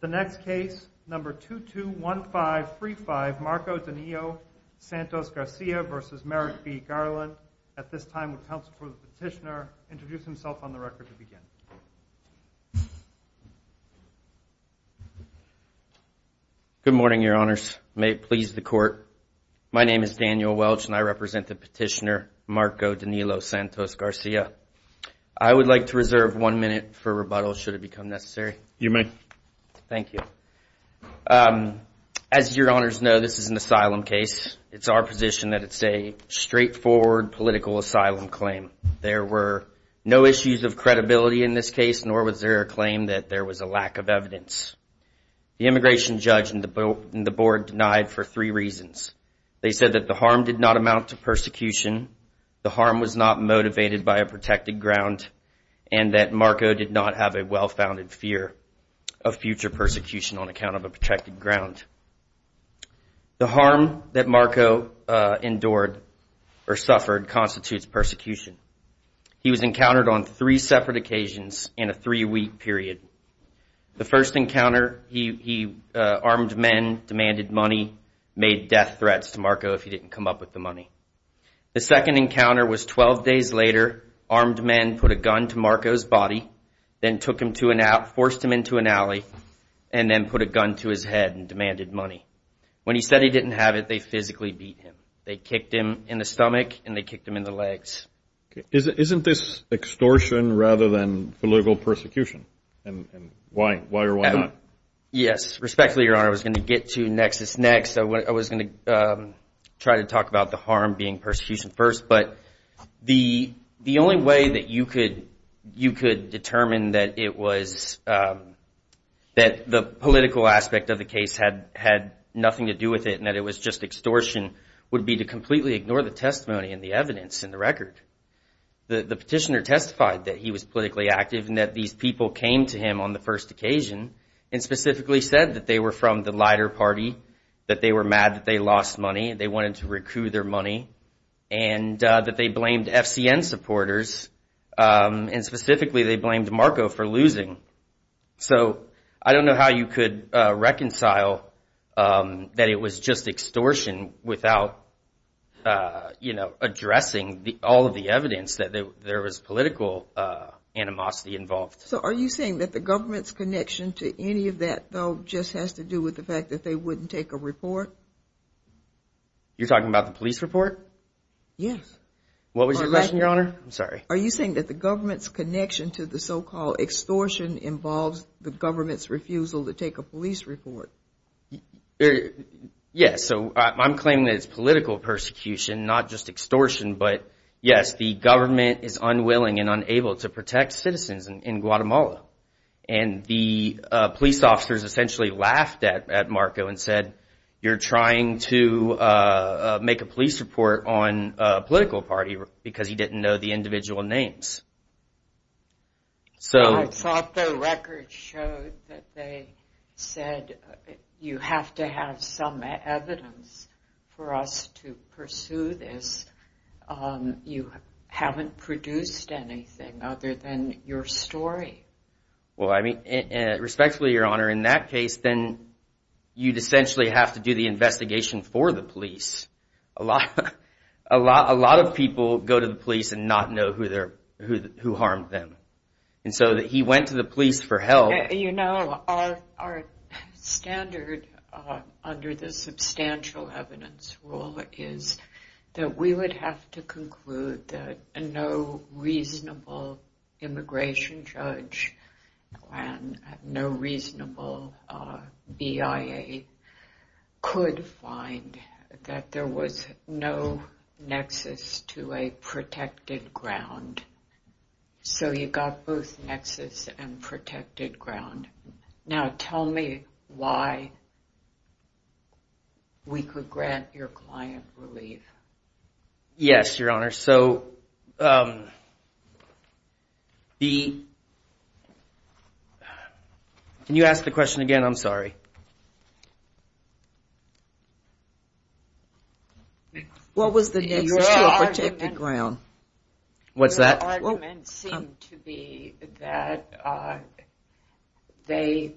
The next case, number 221535, Marco Danilo Santos Garcia v. Merrick B. Garland, at this time with counsel for the petitioner, introduce himself on the record to begin. Good morning, your honors. May it please the court, my name is Daniel Welch and I represent the petitioner, Marco Danilo Santos Garcia. I would like to reserve one minute for rebuttal should it become necessary. You may. Thank you. As your honors know, this is an asylum case. It's our position that it's a straightforward political asylum claim. There were no issues of credibility in this case, nor was there a claim that there was a lack of evidence. The immigration judge and the board denied for three reasons. They said that the harm did not amount to persecution, the harm was not motivated by a protected ground, and that Marco did not have a well-founded fear of future persecution on account of a protected ground. The harm that Marco endured or suffered constitutes persecution. He was encountered on three separate occasions in a three-week period. The first encounter, he armed men, demanded money, made death threats to Marco if he didn't come up with the money. The second encounter was 12 days later. Armed men put a gun to Marco's body, then took him to a nap, forced him into an alley, and then put a gun to his head and demanded money. When he said he didn't have it, they physically beat him. They kicked him in the stomach and they kicked him in the legs. Isn't this extortion rather than political persecution? And why or why not? Yes. Respectfully, Your Honor, I was going to get to nexus next. I was going to try to talk about the harm being persecution first. But the only way that you could determine that the political aspect of the case had nothing to do with it and that it was just extortion would be to completely ignore the testimony and the evidence and the record. The petitioner testified that he was politically active and that these people came to him on the first occasion and specifically said that they were from the lighter party, that they were mad that they lost money, and they wanted to recoup their money. And that they blamed FCN supporters, and specifically they blamed Marco for losing. So I don't know how you could reconcile that it was just extortion without, you know, addressing all of the evidence that there was political animosity involved. So are you saying that the government's connection to any of that, though, just has to do with the fact that they wouldn't take a report? You're talking about the police report? Yes. What was your question, Your Honor? I'm sorry. Are you saying that the government's connection to the so-called extortion involves the government's refusal to take a police report? Yes. So I'm claiming that it's political persecution, not just extortion. But, yes, the government is unwilling and unable to protect citizens in Guatemala. And the police officers essentially laughed at Marco and said, you're trying to make a police report on a political party because he didn't know the individual names. I thought the record showed that they said you have to have some evidence for us to pursue this. You haven't produced anything other than your story. Well, I mean, respectfully, Your Honor, in that case, then you'd essentially have to do the investigation for the police. A lot of people go to the police and not know who harmed them. And so he went to the police for help. You know, our standard under the substantial evidence rule is that we would have to conclude that no reasonable immigration judge and no reasonable BIA could find that there was no nexus to a protected ground. So you've got both nexus and protected ground. Now, tell me why we could grant your client relief. Yes, Your Honor. So the... Can you ask the question again? I'm sorry. What was the nexus to a protected ground? Your argument seemed to be that they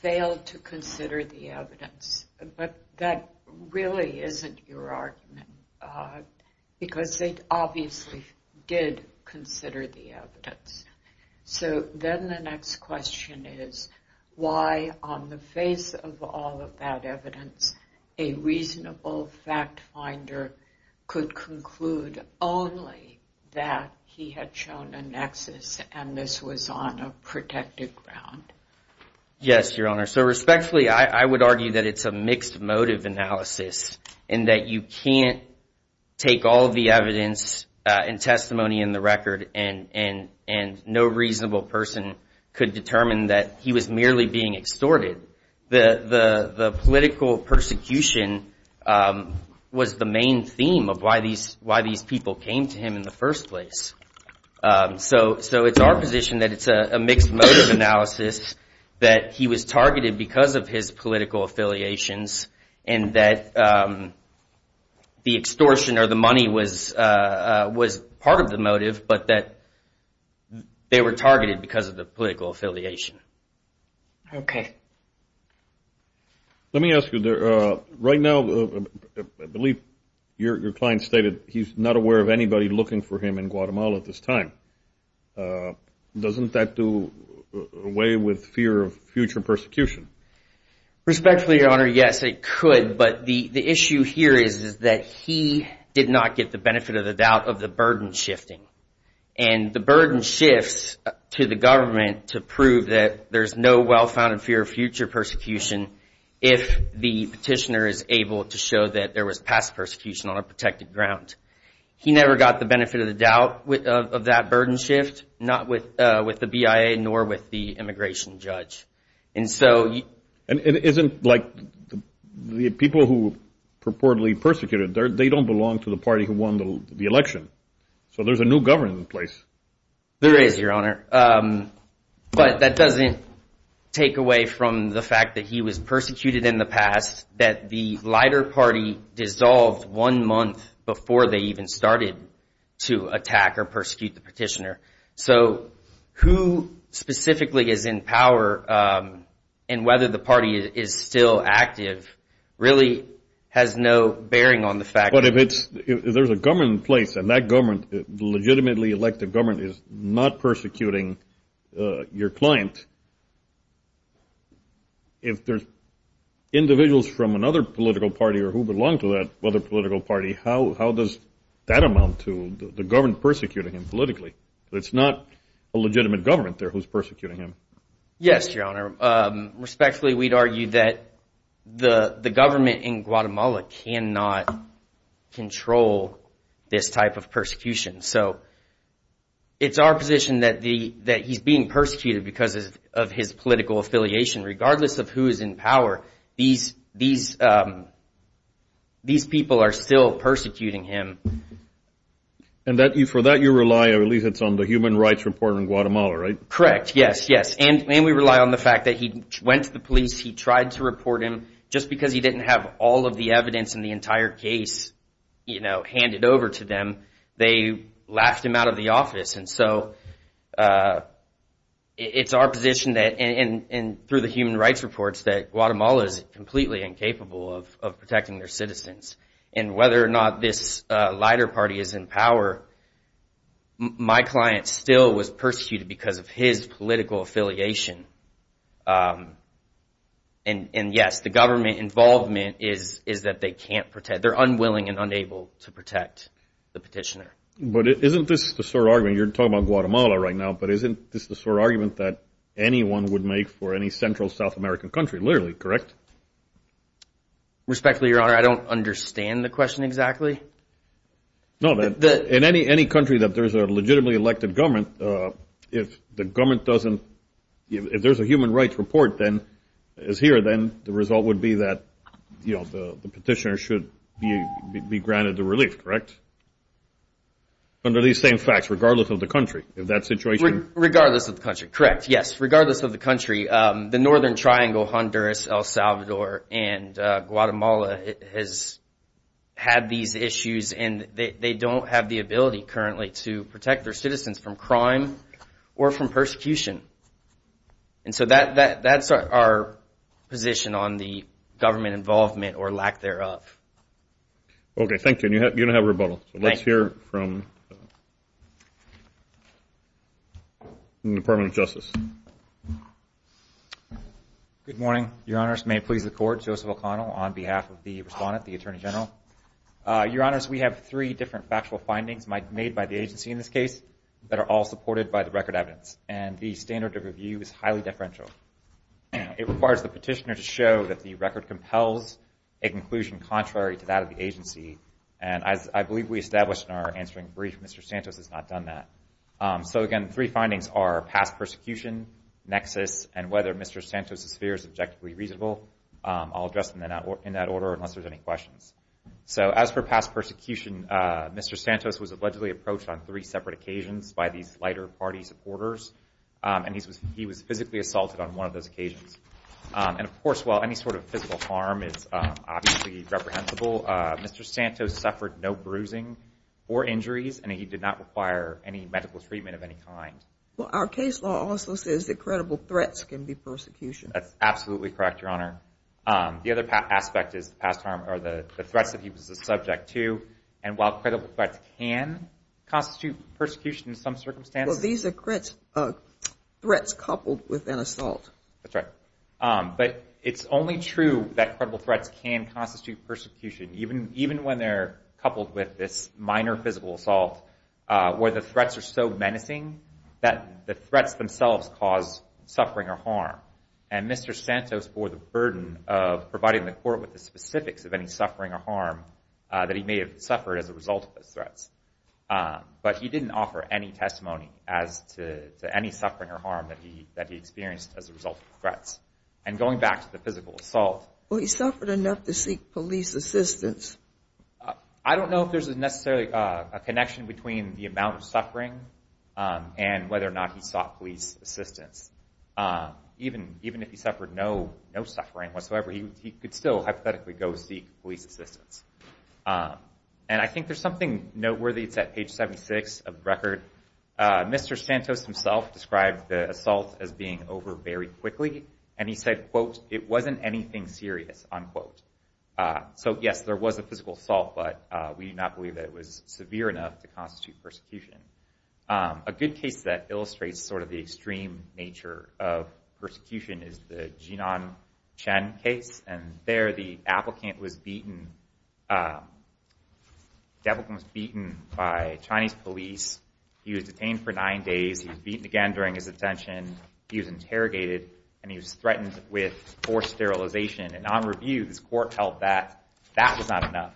failed to consider the evidence. But that really isn't your argument because they obviously did consider the evidence. So then the next question is why, on the face of all of that evidence, a reasonable fact finder could conclude only that he had shown a nexus and this was on a protected ground? Yes, Your Honor. So respectfully, I would argue that it's a mixed motive analysis and that you can't take all of the evidence and testimony in the record and no reasonable person could determine that he was merely being extorted. The political persecution was the main theme of why these people came to him in the first place. So it's our position that it's a mixed motive analysis, that he was targeted because of his political affiliations and that the extortion or the money was part of the motive but that they were targeted because of the political affiliation. Okay. Let me ask you, right now, I believe your client stated he's not aware of anybody looking for him in Guatemala at this time. Doesn't that do away with fear of future persecution? Respectfully, Your Honor, yes, it could. But the issue here is that he did not get the benefit of the doubt of the burden shifting. And the burden shifts to the government to prove that there's no well-founded fear of future persecution if the petitioner is able to show that there was past persecution on a protected ground. He never got the benefit of the doubt of that burden shift, not with the BIA nor with the immigration judge. And so you… And it isn't like the people who purportedly persecuted, they don't belong to the party who won the election. So there's a new government in place. There is, Your Honor. But that doesn't take away from the fact that he was persecuted in the past, that the lighter party dissolved one month before they even started to attack or persecute the petitioner. So who specifically is in power and whether the party is still active really has no bearing on the fact… But if there's a government in place and that government, the legitimately elected government, is not persecuting your client, if there's individuals from another political party or who belong to that other political party, how does that amount to the government persecuting him politically? It's not a legitimate government there who's persecuting him. Yes, Your Honor. Respectfully, we'd argue that the government in Guatemala cannot control this type of persecution. So it's our position that he's being persecuted because of his political affiliation. Regardless of who is in power, these people are still persecuting him. And for that you rely, or at least it's on the Human Rights Report in Guatemala, right? Correct. Yes, yes. And we rely on the fact that he went to the police, he tried to report him. Just because he didn't have all of the evidence in the entire case handed over to them, they laughed him out of the office. And so it's our position that, and through the Human Rights Reports, that Guatemala is completely incapable of protecting their citizens. And whether or not this lighter party is in power, my client still was persecuted because of his political affiliation. And yes, the government involvement is that they can't protect, they're unwilling and unable to protect the petitioner. But isn't this the sort of argument, you're talking about Guatemala right now, but isn't this the sort of argument that anyone would make for any central South American country, literally, correct? Respectfully, Your Honor, I don't understand the question exactly. No, in any country that there's a legitimately elected government, if the government doesn't, if there's a Human Rights Report that is here, then the result would be that the petitioner should be granted the relief, correct? Under these same facts, regardless of the country, if that situation- Regardless of the country, correct, yes. Regardless of the country, the Northern Triangle, Honduras, El Salvador, and Guatemala has had these issues and they don't have the ability currently to protect their citizens from crime or from persecution. And so that's our position on the government involvement or lack thereof. Okay, thank you, and you don't have a rebuttal. Let's hear from the Department of Justice. Good morning, Your Honors. May it please the Court, Joseph O'Connell on behalf of the respondent, the Attorney General. Your Honors, we have three different factual findings made by the agency in this case that are all supported by the record evidence. And the standard of review is highly differential. It requires the petitioner to show that the record compels a conclusion contrary to that of the agency. And as I believe we established in our answering brief, Mr. Santos has not done that. So again, three findings are past persecution, nexus, and whether Mr. Santos' fear is objectively reasonable. I'll address them in that order unless there's any questions. So as for past persecution, Mr. Santos was allegedly approached on three separate occasions by these lighter party supporters. And he was physically assaulted on one of those occasions. And, of course, while any sort of physical harm is obviously reprehensible, Mr. Santos suffered no bruising or injuries, and he did not require any medical treatment of any kind. Well, our case law also says that credible threats can be persecution. That's absolutely correct, Your Honor. The other aspect is the threats that he was a subject to. And while credible threats can constitute persecution in some circumstances— Well, these are threats coupled with an assault. That's right. But it's only true that credible threats can constitute persecution, even when they're coupled with this minor physical assault where the threats are so menacing that the threats themselves cause suffering or harm. And Mr. Santos bore the burden of providing the court with the specifics of any suffering or harm that he may have suffered as a result of those threats. But he didn't offer any testimony as to any suffering or harm that he experienced as a result of the threats. And going back to the physical assault— Well, he suffered enough to seek police assistance. I don't know if there's necessarily a connection between the amount of suffering and whether or not he sought police assistance. Even if he suffered no suffering whatsoever, he could still hypothetically go seek police assistance. And I think there's something noteworthy. It's at page 76 of the record. Mr. Santos himself described the assault as being over very quickly. And he said, quote, it wasn't anything serious, unquote. So, yes, there was a physical assault, but we do not believe that it was severe enough to constitute persecution. A good case that illustrates sort of the extreme nature of persecution is the Jinan Chen case. And there the applicant was beaten—the applicant was beaten by Chinese police. He was detained for nine days. He was beaten again during his detention. He was interrogated, and he was threatened with forced sterilization. And on review, this court held that that was not enough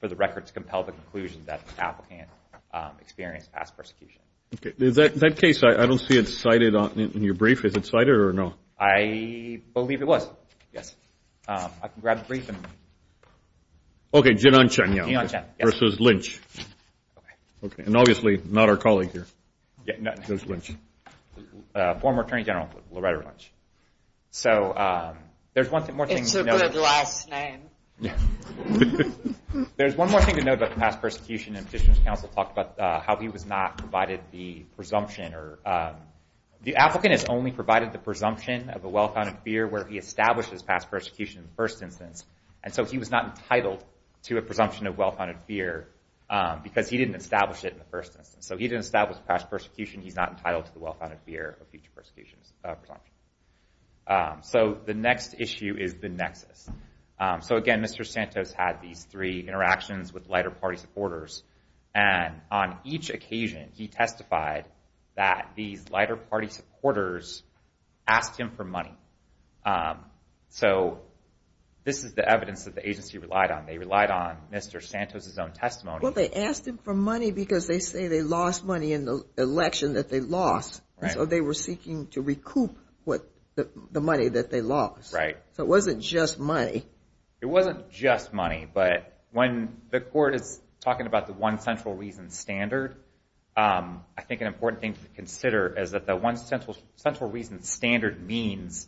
for the record to compel the conclusion that the applicant experienced past persecution. Is that case—I don't see it cited in your brief. Is it cited or no? I believe it was, yes. I can grab the brief. Okay, Jinan Chen versus Lynch. And obviously not our colleague here. Former Attorney General Loretta Lynch. So there's one more thing to note. It's a good last name. There's one more thing to note about the past persecution. And petitioner's counsel talked about how he was not provided the presumption. The applicant is only provided the presumption of a well-founded fear where he established his past persecution in the first instance. And so he was not entitled to a presumption of well-founded fear because he didn't establish it in the first instance. So he didn't establish past persecution. He's not entitled to the well-founded fear of future persecution presumption. So the next issue is the nexus. So, again, Mr. Santos had these three interactions with lighter party supporters. And on each occasion, he testified that these lighter party supporters asked him for money. So this is the evidence that the agency relied on. They relied on Mr. Santos' own testimony. Well, they asked him for money because they say they lost money in the election that they lost. So they were seeking to recoup the money that they lost. Right. So it wasn't just money. It wasn't just money, but when the court is talking about the one central reason standard, I think an important thing to consider is that the one central reason standard means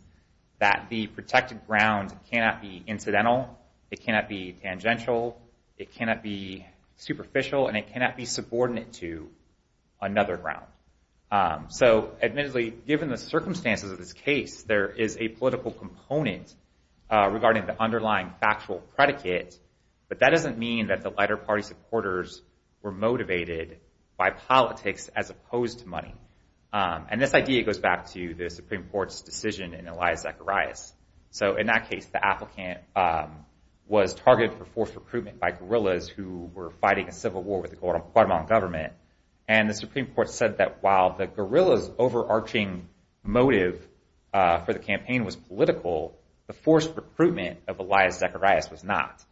that the protected ground cannot be incidental. It cannot be tangential. It cannot be superficial. And it cannot be subordinate to another ground. So, admittedly, given the circumstances of this case, there is a political component regarding the underlying factual predicate. But that doesn't mean that the lighter party supporters were motivated by politics as opposed to money. And this idea goes back to the Supreme Court's decision in Elias Zacharias. So in that case, the applicant was targeted for forced recruitment by guerrillas who were fighting a civil war with the Guatemalan government. And the Supreme Court said that while the guerrilla's overarching motive for the campaign was political, the forced recruitment of Elias Zacharias was not.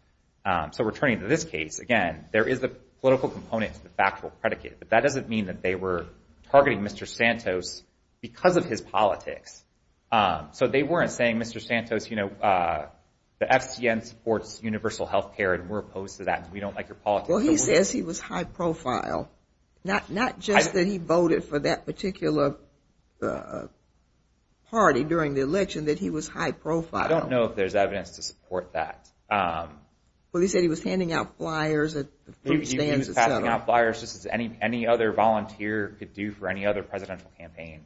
So returning to this case, again, there is a political component to the factual predicate. But that doesn't mean that they were targeting Mr. Santos because of his politics. So they weren't saying, Mr. Santos, you know, the FCN supports universal health care and we're opposed to that. We don't like your politics. Well, he says he was high profile. Not just that he voted for that particular party during the election, that he was high profile. I don't know if there's evidence to support that. Well, he said he was handing out flyers at food stands. He was handing out flyers just as any other volunteer could do for any other presidential campaign.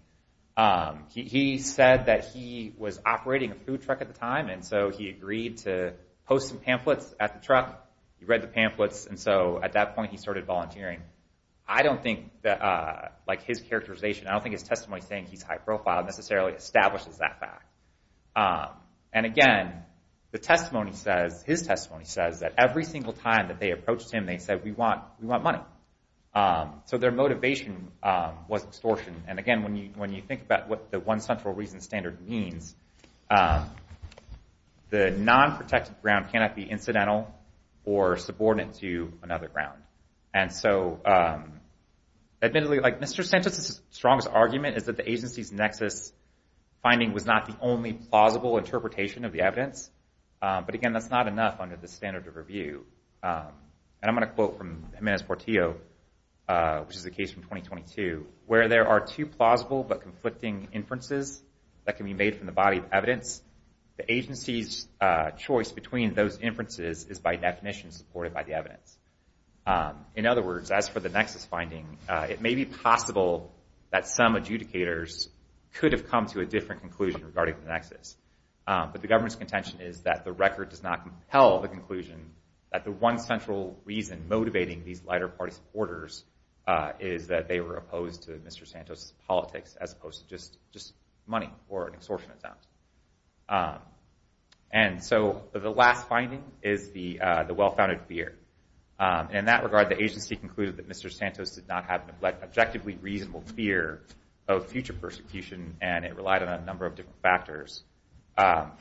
He said that he was operating a food truck at the time. And so he agreed to post some pamphlets at the truck. He read the pamphlets. And so at that point, he started volunteering. I don't think that, like his characterization, I don't think his testimony saying he's high profile necessarily establishes that fact. And again, the testimony says, his testimony says that every single time that they approached him, they said, we want money. So their motivation was extortion. And again, when you think about what the one central reason standard means, the non-protected ground cannot be incidental or subordinate to another ground. And so Mr. Sanchez's strongest argument is that the agency's nexus finding was not the only plausible interpretation of the evidence. But again, that's not enough under the standard of review. And I'm going to quote from Jimenez-Portillo, which is a case from 2022, where there are two plausible but conflicting inferences that can be made from the body of evidence. The agency's choice between those inferences is by definition supported by the evidence. In other words, as for the nexus finding, it may be possible that some adjudicators could have come to a different conclusion regarding the nexus. But the government's contention is that the record does not compel the conclusion that the one central reason motivating these lighter party supporters is that they were opposed to Mr. Santos' politics as opposed to just money or an extortion attempt. And so the last finding is the well-founded fear. And in that regard, the agency concluded that Mr. Santos did not have an objectively reasonable fear of future persecution, and it relied on a number of different factors.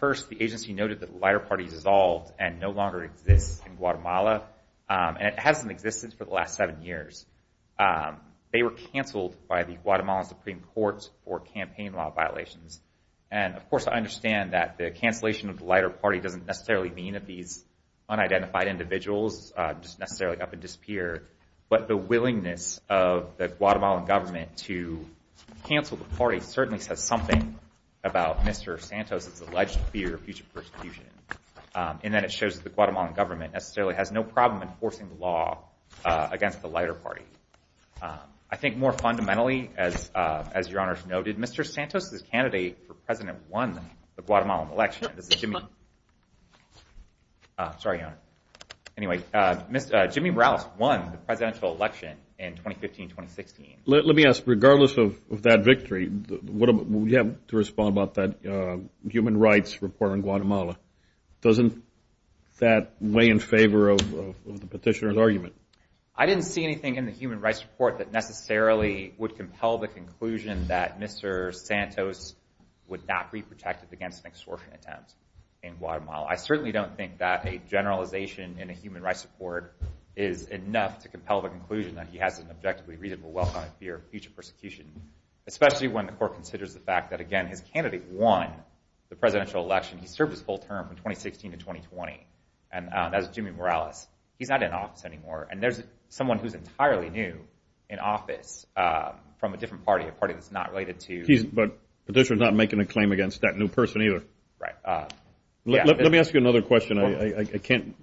First, the agency noted that the lighter party dissolved and no longer exists in Guatemala, and it hasn't existed for the last seven years. They were canceled by the Guatemalan Supreme Court for campaign law violations. And, of course, I understand that the cancellation of the lighter party doesn't necessarily mean that these unidentified individuals just necessarily up and disappear. But the willingness of the Guatemalan government to cancel the party certainly says something about Mr. Santos' alleged fear of future persecution. And then it shows that the Guatemalan government necessarily has no problem enforcing the law against the lighter party. I think more fundamentally, as Your Honor noted, Mr. Santos, the candidate for president, won the Guatemalan election. This is Jimmy. Sorry, Your Honor. Anyway, Jimmy Morales won the presidential election in 2015-2016. Let me ask, regardless of that victory, what would you have to respond about that human rights report on Guatemala? Doesn't that weigh in favor of the petitioner's argument? I didn't see anything in the human rights report that necessarily would compel the conclusion that Mr. Santos would not be protected against an extortion attempt in Guatemala. I certainly don't think that a generalization in a human rights report is enough to compel the conclusion that he has an objectively reasonable well-founded fear of future persecution, especially when the court considers the fact that, again, his candidate won the presidential election. He served his full term from 2016 to 2020, and that was Jimmy Morales. He's not in office anymore, and there's someone who's entirely new in office from a different party, a party that's not related to— But the petitioner's not making a claim against that new person either. Right. Let me ask you another question. I can't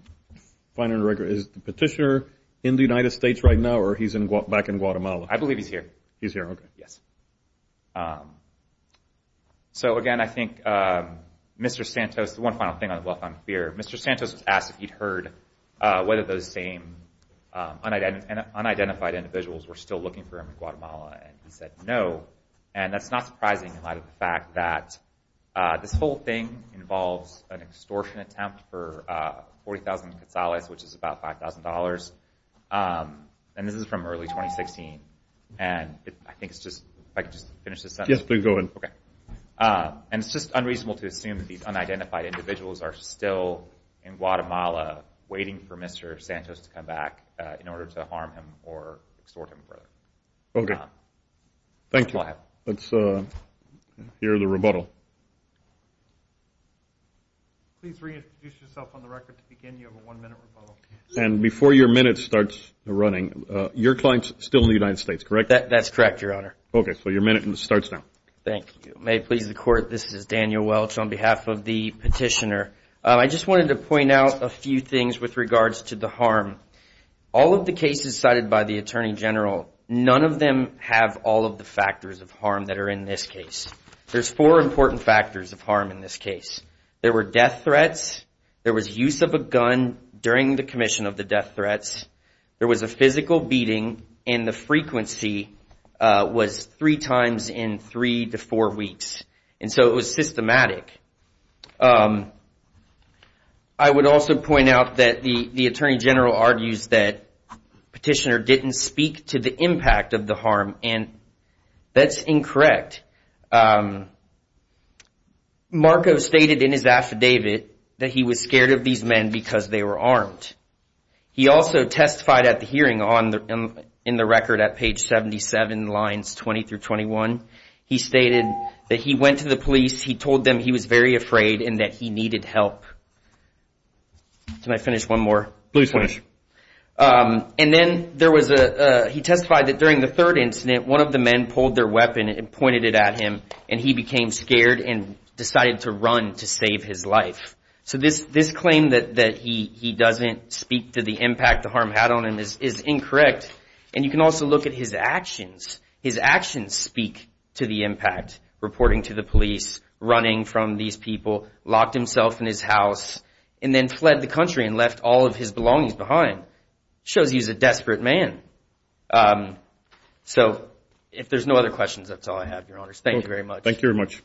find it on the record. Is the petitioner in the United States right now, or he's back in Guatemala? I believe he's here. He's here, okay. Yes. So, again, I think Mr. Santos—one final thing on the well-founded fear. Mr. Santos was asked if he'd heard whether those same unidentified individuals were still looking for him in Guatemala, and he said no. And that's not surprising in light of the fact that this whole thing involves an extortion attempt for 40,000 quetzales, which is about $5,000, and this is from early 2016. And I think it's just—if I could just finish this sentence. Yes, please go ahead. Okay. And it's just unreasonable to assume that these unidentified individuals are still in Guatemala waiting for Mr. Santos to come back in order to harm him or extort him further. Okay. Thank you. Go ahead. Let's hear the rebuttal. Please reintroduce yourself on the record to begin. You have a one-minute rebuttal. And before your minute starts running, your client's still in the United States, correct? That's correct, Your Honor. Okay. So your minute starts now. Thank you. May it please the Court, this is Daniel Welch on behalf of the petitioner. I just wanted to point out a few things with regards to the harm. All of the cases cited by the Attorney General, none of them have all of the factors of harm that are in this case. There's four important factors of harm in this case. There were death threats. There was use of a gun during the commission of the death threats. There was a physical beating, and the frequency was three times in three to four weeks. And so it was systematic. I would also point out that the Attorney General argues that petitioner didn't speak to the impact of the harm, and that's incorrect. Marco stated in his affidavit that he was scared of these men because they were armed. He also testified at the hearing in the record at page 77, lines 20 through 21. He stated that he went to the police, he told them he was very afraid and that he needed help. Can I finish one more? Please finish. And then he testified that during the third incident, one of the men pulled their weapon and pointed it at him, and he became scared and decided to run to save his life. So this claim that he doesn't speak to the impact the harm had on him is incorrect. And you can also look at his actions. His actions speak to the impact, reporting to the police, running from these people, locked himself in his house, and then fled the country and left all of his belongings behind. It shows he's a desperate man. So if there's no other questions, that's all I have, Your Honors. Thank you very much. Thank you very much.